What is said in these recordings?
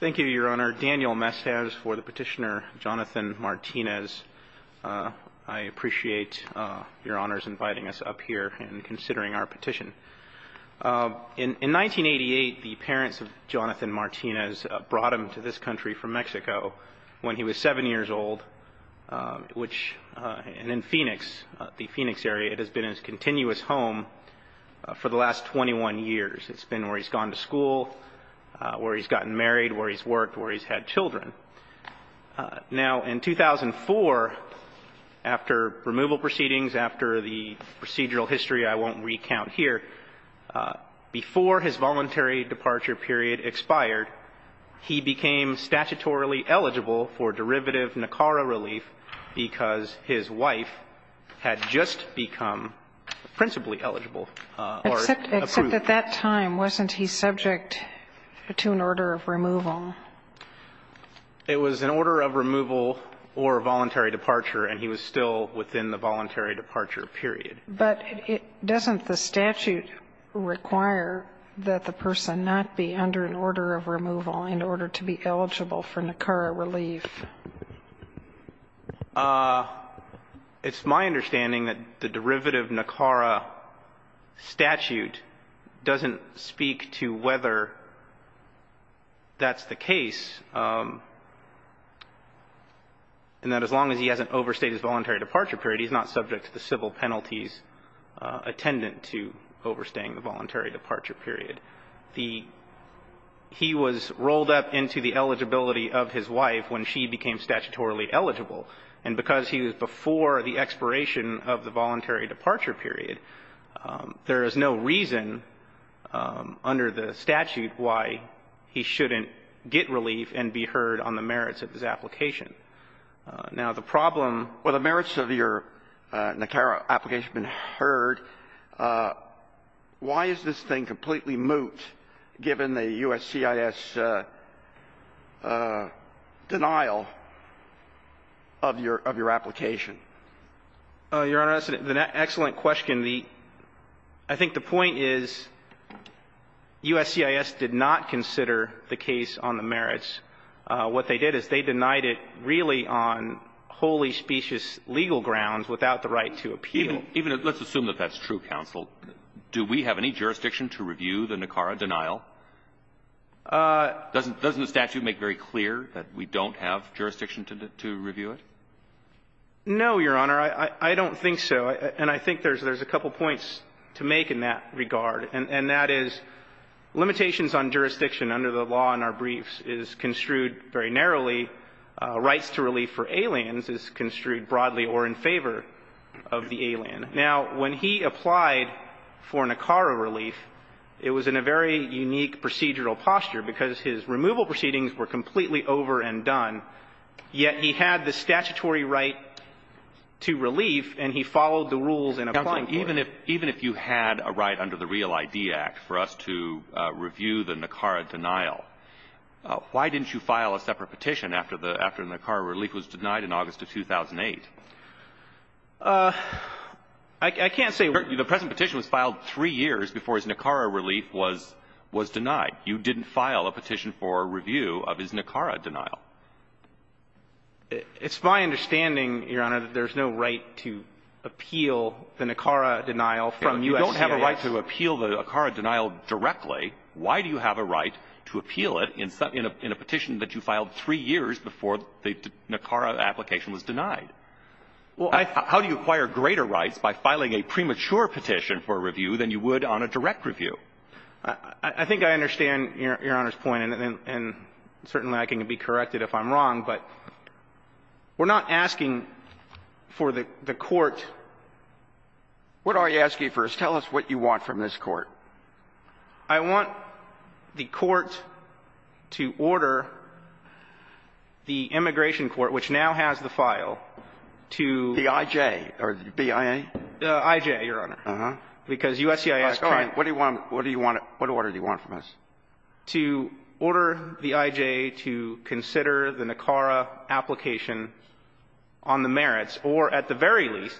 Thank you, Your Honor. Daniel Mestiz for the petitioner, Jonathan Martinez. I appreciate Your Honor's inviting us up here and considering our petition. In 1988, the parents of Jonathan Martinez brought him to this country from Mexico when he was 7 years old, which, and in Phoenix, the Phoenix area, it has been his continuous home for the last 21 years. It's been where he's gotten married, where he's worked, where he's had children. Now, in 2004, after removal proceedings, after the procedural history I won't recount here, before his voluntary departure period expired, he became statutorily eligible for derivative NACARA relief because his wife had just become principally eligible or approved. Sotomayor Except at that time, wasn't he subject to an order of removal? Mestiz It was an order of removal or voluntary departure, and he was still within the voluntary departure period. Sotomayor But doesn't the statute require that the person not be under an order of removal in order to be eligible for NACARA relief? Mestiz It's my understanding that the derivative NACARA statute, which is the one that I'm referring to, doesn't speak to whether that's the case, and that as long as he hasn't overstayed his voluntary departure period, he's not subject to the civil penalties attendant to overstaying the voluntary departure period. The he was rolled up into the eligibility of his wife when she became statutorily eligible. And because he was before the expiration of the voluntary departure period, there is no reason under the statute why he shouldn't get relief and be heard on the merits of his application. Now, the problem ---- Alito Well, the merits of your NACARA application have been heard. Why is this thing completely moot, given the U.S. CIS denial of your application? Mestiz Your Honor, that's an excellent question. The ---- I think the point is U.S. CIS did not consider the case on the merits. What they did is they denied it really on wholly specious legal grounds without the right to appeal. Alito Even if ---- let's assume that that's true, counsel. Do we have any jurisdiction to review the NACARA denial? Mestiz Doesn't the statute make very clear that we don't have jurisdiction to review it? No, Your Honor, I don't think so. And I think there's a couple points to make in that regard. And that is, limitations on jurisdiction under the law in our briefs is construed very narrowly. Rights to relief for aliens is construed broadly or in favor of the alien. Now, when he applied for NACARA relief, it was in a very unique procedural posture, because his removal proceedings were completely over and done, yet he had the statutory right to relief, and he followed the rules in applying for it. Alito Even if you had a right under the Real ID Act for us to review the NACARA denial, why didn't you file a separate petition after the NACARA relief was denied in August of 2008? Mestiz I can't say ---- Alito The present petition was filed three years before his NACARA relief was denied. You didn't file a petition for review of his NACARA denial. Mestiz It's my understanding, Your Honor, that there's no right to appeal the NACARA denial from U.S. states. Alito You don't have a right to appeal the NACARA denial directly. Why do you have a right to appeal it in a petition that you filed three years before the NACARA application was denied? How do you acquire greater rights by filing a premature petition for review than you would on a direct review? Mestiz I think I understand Your Honor's point, and certainly I can be correct if I'm wrong, but we're not asking for the court ---- Alito What are you asking for? Tell us what you want from this court. Mestiz I want the court to order the immigration court, which now has the file, to ---- Alito The I.J. or the B.I.A.? Mestiz The I.J., Your Honor, because U.S.C.I.S. can't ---- Alito All right. What do you want to ---- what order do you want from us? To order the I.J. to consider the NACARA application on the merits, or at the very least,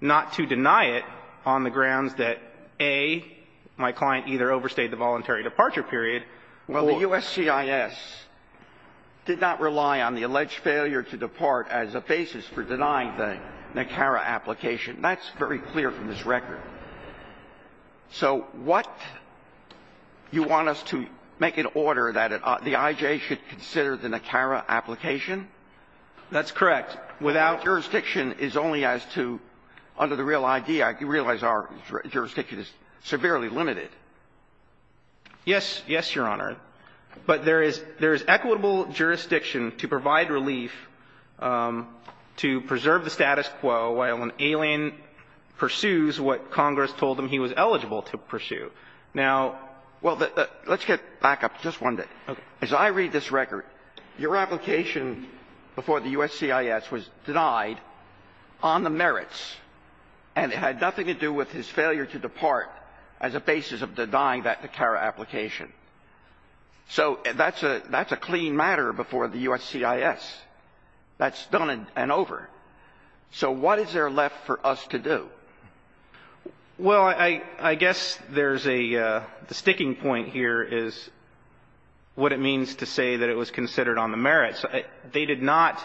not to deny it on the grounds that, A, my client either overstayed the voluntary departure period, or ---- Sotomayor Well, the U.S.C.I.S. did not rely on the alleged failure to depart as a basis for denying the NACARA application, and that's very clear from this record. Alito So what you want us to make an order that the I.J. should consider the NACARA application? Mestiz That's correct. Alito Without jurisdiction is only as to, under the real idea, I realize our jurisdiction is severely limited. Mestiz Yes. Yes, Your Honor. But there is equitable jurisdiction to provide relief to preserve the status quo while an alien pursues what Congress told him he was eligible to pursue. Alito Well, let's get back up just one minute. Mestiz Okay. Alito As I read this record, your application before the U.S.C.I.S. was denied on the merits, and it had nothing to do with his failure to depart as a basis of denying that NACARA application. So that's a clean matter before the U.S.C.I.S. That's done and over. So what is there left for us to do? Mestiz Well, I guess there's a the sticking point here is what it means to say that it was considered on the merits. They did not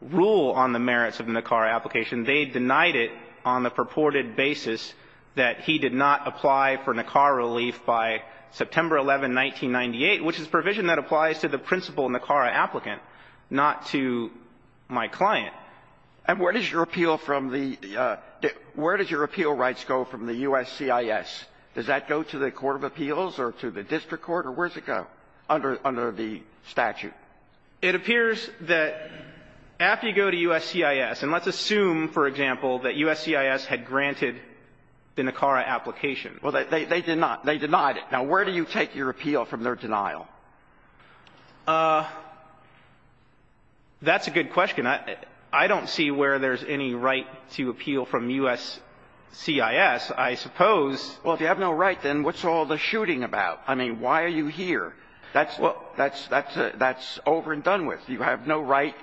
rule on the merits of NACARA application. They denied it on the purported basis that he did not apply for NACARA relief by September 11, 1998, which is provision that applies to the principal NACARA applicant, not to my client. Alito And where does your appeal from the – where does your appeal rights go from the U.S.C.I.S.? Does that go to the Court of Appeals or to the district court, or where does it go? Under the statute. Mestiz It appears that after you go to U.S.C.I.S. – and let's assume, for example, that U.S.C.I.S. had granted the NACARA application. Alito Well, they did not. They denied it. Now, where do you take your appeal from their denial? Mestiz That's a good question. I don't see where there's any right to appeal from U.S.C.I.S. I suppose – Alito Well, if you have no right, then what's all the shooting about? I mean, why are you here? That's over and done with. You have no right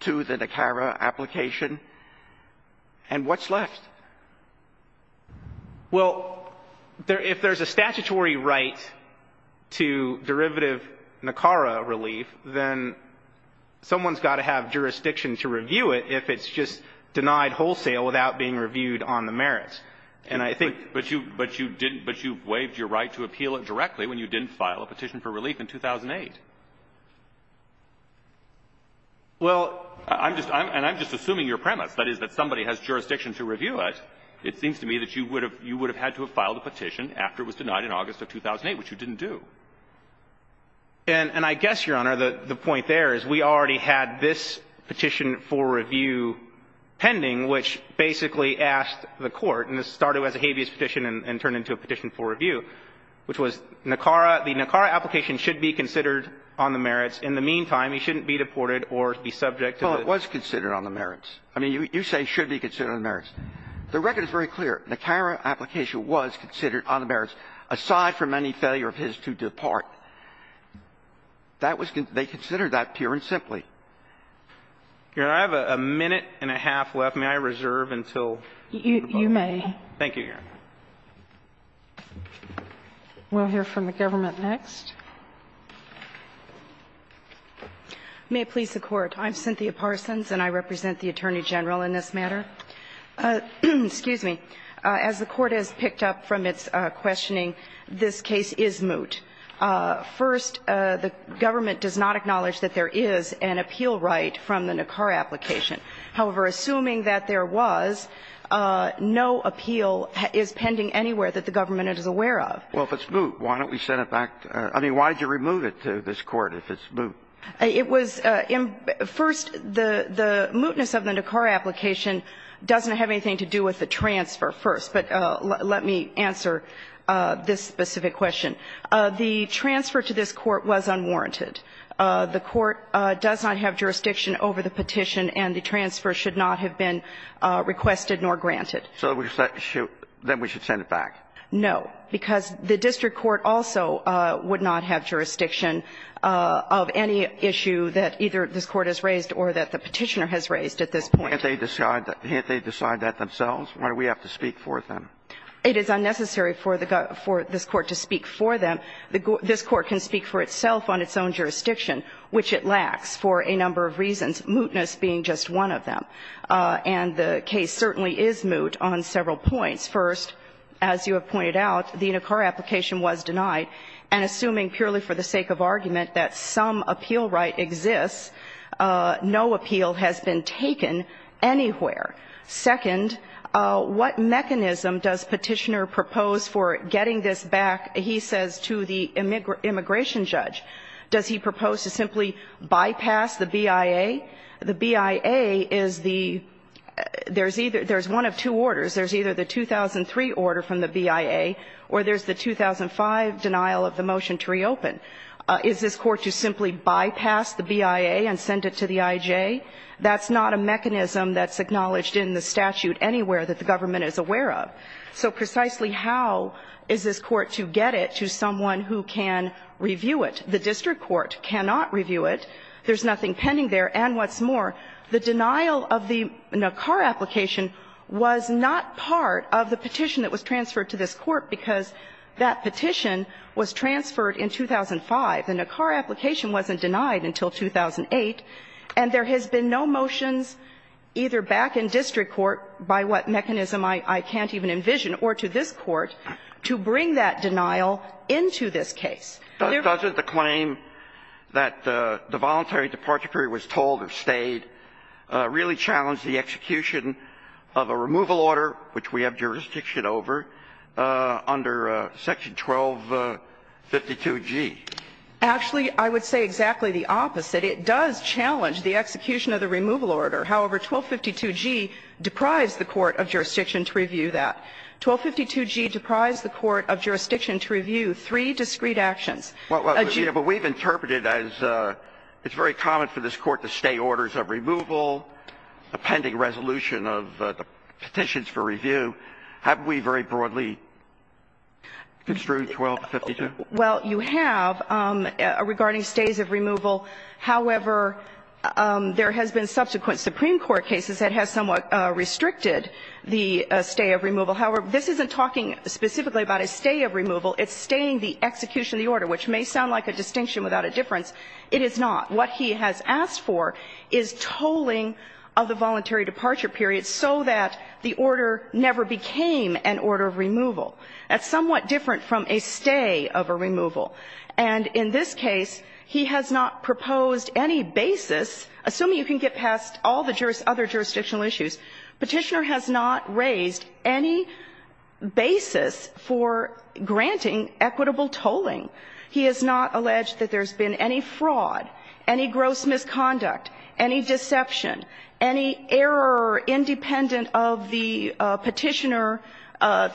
to the NACARA application. And what's left? Mestiz Well, if there's a statutory right to derivative NACARA relief, then someone's got to have jurisdiction to review it if it's just denied wholesale without being reviewed on the merits. And I think – Alito But you – but you didn't – but you waived your right to appeal it directly when you didn't file a petition for relief in 2008. Mestiz Well – Alito I'm just – and I'm just assuming your premise, that is, that somebody has jurisdiction to review it, it seems to me that you would have – you would have had to have filed a petition after it was denied in August of 2008, which you didn't do. Mestiz And I guess, Your Honor, the point there is we already had this petition for review pending, which basically asked the Court – and this started as a habeas petition and turned into a petition for review – which was NACARA – the NACARA application should be considered on the merits. In the meantime, he shouldn't be deported or be subject to the – Roberts Well, it was considered on the merits. I mean, you say should be considered on the merits. The record is very clear. NACARA application was considered on the merits, aside from any failure of his to depart. That was – they considered that pure and simply. Alito Your Honor, I have a minute and a half left. May I reserve until the book is over? Kagan You may. Alito Thank you, Your Honor. Kagan We'll hear from the government next. Cynthia Parsons May it please the Court, I'm Cynthia Parsons and I represent the Attorney General in this matter. As the Court has picked up from its questioning, this case is moot. First, the government does not acknowledge that there is an appeal right from the NACARA application. However, assuming that there was, no appeal is pending anywhere that the government is aware of. Alito Well, if it's moot, why don't we send it back – I mean, why don't we send I mean, why did you remove it to this Court if it's moot? Cynthia Parsons It was – first, the mootness of the NACARA application doesn't have anything to do with the transfer, first. But let me answer this specific question. The transfer to this Court was unwarranted. The Court does not have jurisdiction over the petition and the transfer should not have been requested nor granted. Alito So we should – then we should send it back? Cynthia Parsons No, because the district court also would not have jurisdiction of any issue that either this Court has raised or that the petitioner has raised at this point. Alito Well, can't they decide – can't they decide that themselves? Why do we have to speak for them? Cynthia Parsons It is unnecessary for the – for this Court to speak for them. This Court can speak for itself on its own jurisdiction, which it lacks for a number of reasons, mootness being just one of them. And the case certainly is moot on several points. First, as you have pointed out, the NACARA application was denied. And assuming purely for the sake of argument that some appeal right exists, no appeal has been taken anywhere. Second, what mechanism does Petitioner propose for getting this back, he says, to the immigration judge? Does he propose to simply bypass the BIA? The BIA is the – there's either – there's one of two orders. There's either the 2003 order from the BIA or there's the 2005 denial of the motion to reopen. Is this Court to simply bypass the BIA and send it to the IJ? That's not a mechanism that's acknowledged in the statute anywhere that the government is aware of. So precisely how is this Court to get it to someone who can review it? The district court cannot review it. There's nothing pending there. And what's more, the denial of the NACARA application was not part of the petition that was transferred to this Court because that petition was transferred in 2005. The NACARA application wasn't denied until 2008. And there has been no motions either back in district court, by what mechanism I can't even envision, or to this Court, to bring that denial into this case. Doesn't the claim that the voluntary departure period was told or stayed really challenge the execution of a removal order, which we have jurisdiction over, under Section 1252G? Actually, I would say exactly the opposite. It does challenge the execution of the removal order. However, 1252G deprives the court of jurisdiction to review that. 1252G deprives the court of jurisdiction to review three discreet actions. A G. But we've interpreted as it's very common for this Court to stay orders of removal, a pending resolution of the petitions for review. Haven't we very broadly construed 1252? Well, you have regarding stays of removal. However, there has been subsequent Supreme Court cases that have somewhat restricted the stay of removal. However, this isn't talking specifically about a stay of removal. It's staying the execution of the order, which may sound like a distinction without a difference. It is not. What he has asked for is tolling of the voluntary departure period so that the order never became an order of removal. That's somewhat different from a stay of a removal. And in this case, he has not proposed any basis, assuming you can get past all the other jurisdictional issues. Petitioner has not raised any basis for granting equitable tolling. He has not alleged that there's been any fraud, any gross misconduct, any deception, any error independent of the petitioner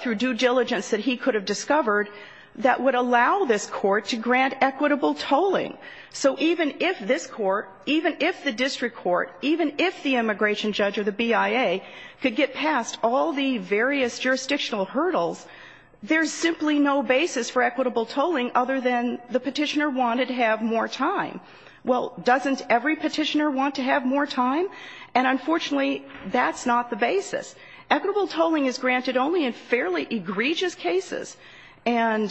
through due diligence that he could have discovered that would allow this court to grant equitable tolling. So even if this court, even if the district court, even if the immigration judge or the BIA could get past all the various jurisdictional hurdles, there's simply no basis for equitable tolling other than the petitioner wanted to have more time. Well, doesn't every petitioner want to have more time? And unfortunately, that's not the basis. Equitable tolling is granted only in fairly egregious cases. And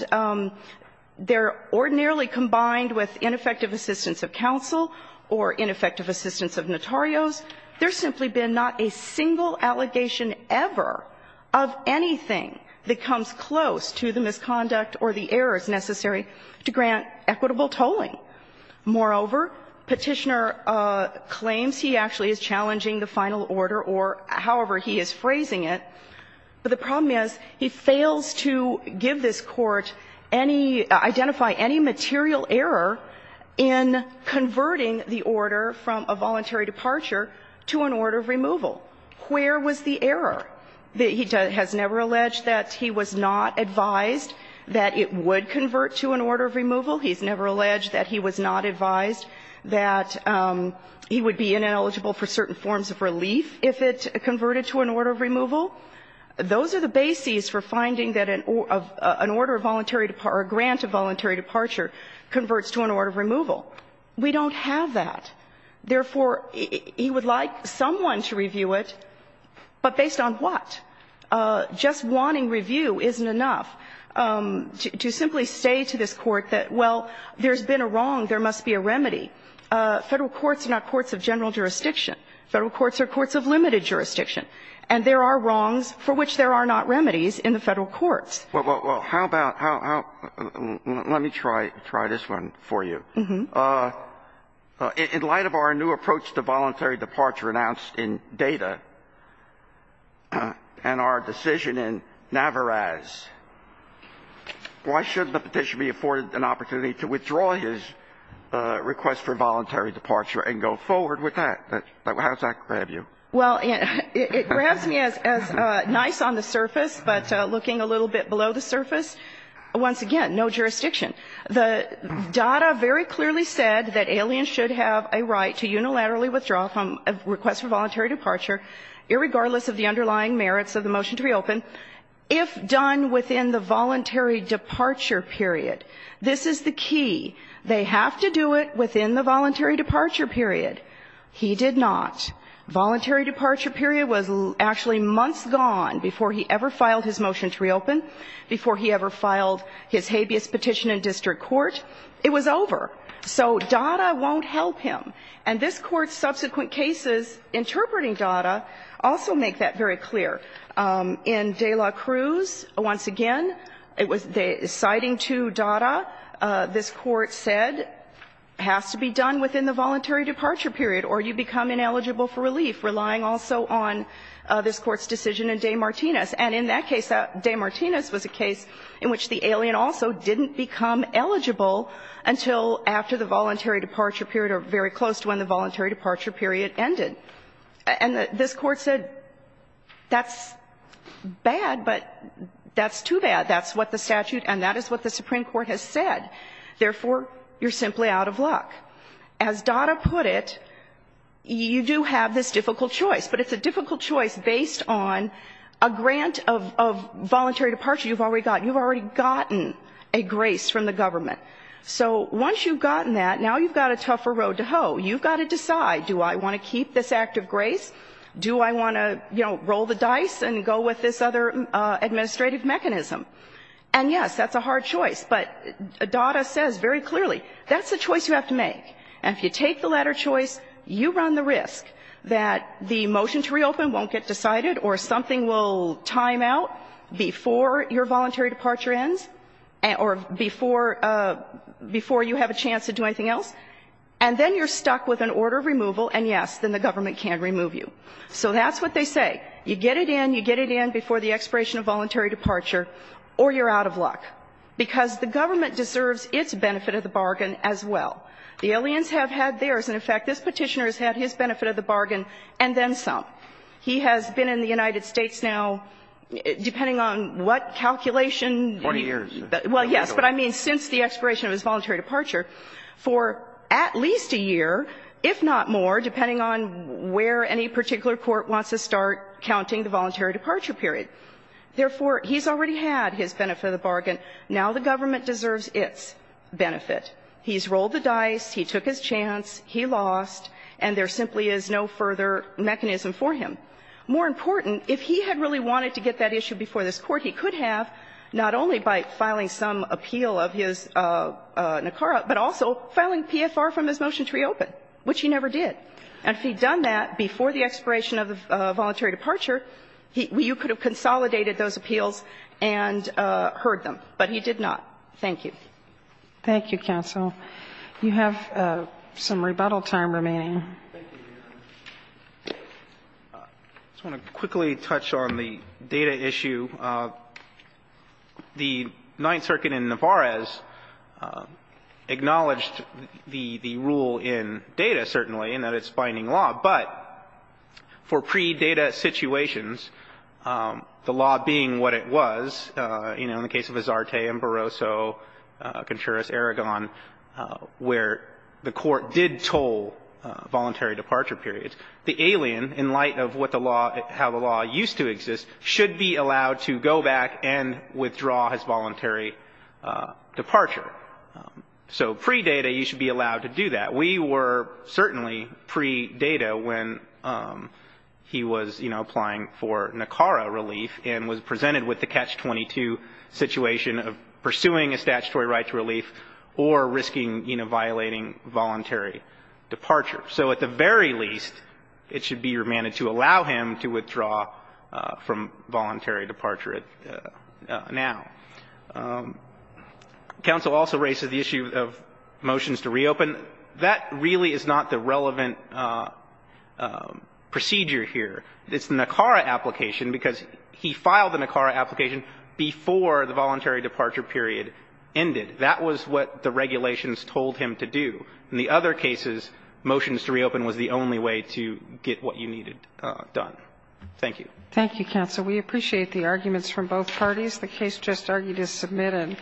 they're ordinarily combined with ineffective assistance of counsel or ineffective assistance of notarios. There's simply been not a single allegation ever of anything that comes close to the misconduct or the errors necessary to grant equitable tolling. Moreover, Petitioner claims he actually is challenging the final order or however he is phrasing it, but the problem is he fails to give this court any, identify any material error in converting the order from a voluntary departure to an order of removal. Where was the error? That he has never alleged that he was not advised that it would convert to an order of removal. He's never alleged that he was not advised that he would be ineligible for certain forms of relief if it converted to an order of removal. Those are the bases for finding that an order of voluntary departure or grant of voluntary departure converts to an order of removal. We don't have that. Therefore, he would like someone to review it, but based on what? Just wanting review isn't enough to simply say to this Court that, well, there's been a wrong, there must be a remedy. Federal courts are not courts of general jurisdiction. Federal courts are courts of limited jurisdiction. And there are wrongs for which there are not remedies in the Federal courts. Well, how about, how, let me try this one for you. In light of our new approach to voluntary departure announced in Data and our decision in Navarraz, why shouldn't the Petitioner be afforded an opportunity to withdraw his request for voluntary departure and go forward with that? How does that grab you? Well, it grabs me as nice on the surface, but looking a little bit below the surface, once again, no jurisdiction. The data very clearly said that aliens should have a right to unilaterally withdraw a request for voluntary departure, irregardless of the underlying merits of the motion to be opened, if done within the voluntary departure period. This is the key. They have to do it within the voluntary departure period. He did not. Voluntary departure period was actually months gone before he ever filed his motion to reopen, before he ever filed his habeas petition in district court. It was over. So Data won't help him. And this Court's subsequent cases interpreting Data also make that very clear. In de la Cruz, once again, it was citing to Data, this Court said, has to be done within the voluntary departure period, or you become ineligible for relief, relying also on this Court's decision in De Martinis. And in that case, De Martinis was a case in which the alien also didn't become eligible until after the voluntary departure period, or very close to when the voluntary departure period ended. And this Court said, that's bad, but that's too bad. That's what the statute and that is what the Supreme Court has said. Therefore, you're simply out of luck. As Data put it, you do have this difficult choice. But it's a difficult choice based on a grant of voluntary departure you've already gotten. You've already gotten a grace from the government. So once you've gotten that, now you've got a tougher road to hoe. You've got to decide, do I want to keep this act of grace? Do I want to, you know, roll the dice and go with this other administrative mechanism? And yes, that's a hard choice. But Data says very clearly, that's the choice you have to make. And if you take the latter choice, you run the risk that the motion to reopen won't get decided or something will time out before your voluntary departure ends or before you have a chance to do anything else. And then you're stuck with an order of removal, and yes, then the government can remove you. So that's what they say. You get it in, you get it in before the expiration of voluntary departure, or you're out of luck. Because the government deserves its benefit of the bargain as well. The aliens have had theirs, and in fact, this Petitioner has had his benefit of the bargain and then some. He has been in the United States now, depending on what calculation he needs. Roberts. Well, yes, but I mean since the expiration of his voluntary departure, for at least a year, if not more, depending on where any particular court wants to start counting the voluntary departure period. Therefore, he's already had his benefit of the bargain. Now the government deserves its benefit. He's rolled the dice, he took his chance, he lost, and there simply is no further mechanism for him. More important, if he had really wanted to get that issue before this Court, he could have, not only by filing some appeal of his NACARA, but also filing PFR from his motion to reopen, which he never did. And if he had done that before the expiration of the voluntary departure, you could have consolidated those appeals and heard them, but he did not. Thank you. Thank you, counsel. You have some rebuttal time remaining. I just want to quickly touch on the data issue. The Ninth Circuit in Navarez acknowledged the rule in data, certainly, in that it's the law being what it was, you know, in the case of Azarte and Barroso, Contreras, Aragon, where the court did toll voluntary departure periods. The alien, in light of what the law, how the law used to exist, should be allowed to go back and withdraw his voluntary departure. So pre-data, you should be allowed to do that. We were certainly pre-data when he was, you know, applying for NACARA relief and was presented with the catch-22 situation of pursuing a statutory right to relief or risking, you know, violating voluntary departure. So at the very least, it should be remanded to allow him to withdraw from voluntary departure now. Counsel also raises the issue of motions to reopen. That really is not the relevant procedure here. It's the NACARA application, because he filed the NACARA application before the voluntary departure period ended. That was what the regulations told him to do. In the other cases, motions to reopen was the only way to get what you needed done. Thank you. Thank you, counsel. We appreciate the arguments from both parties. The case just argued is submitted.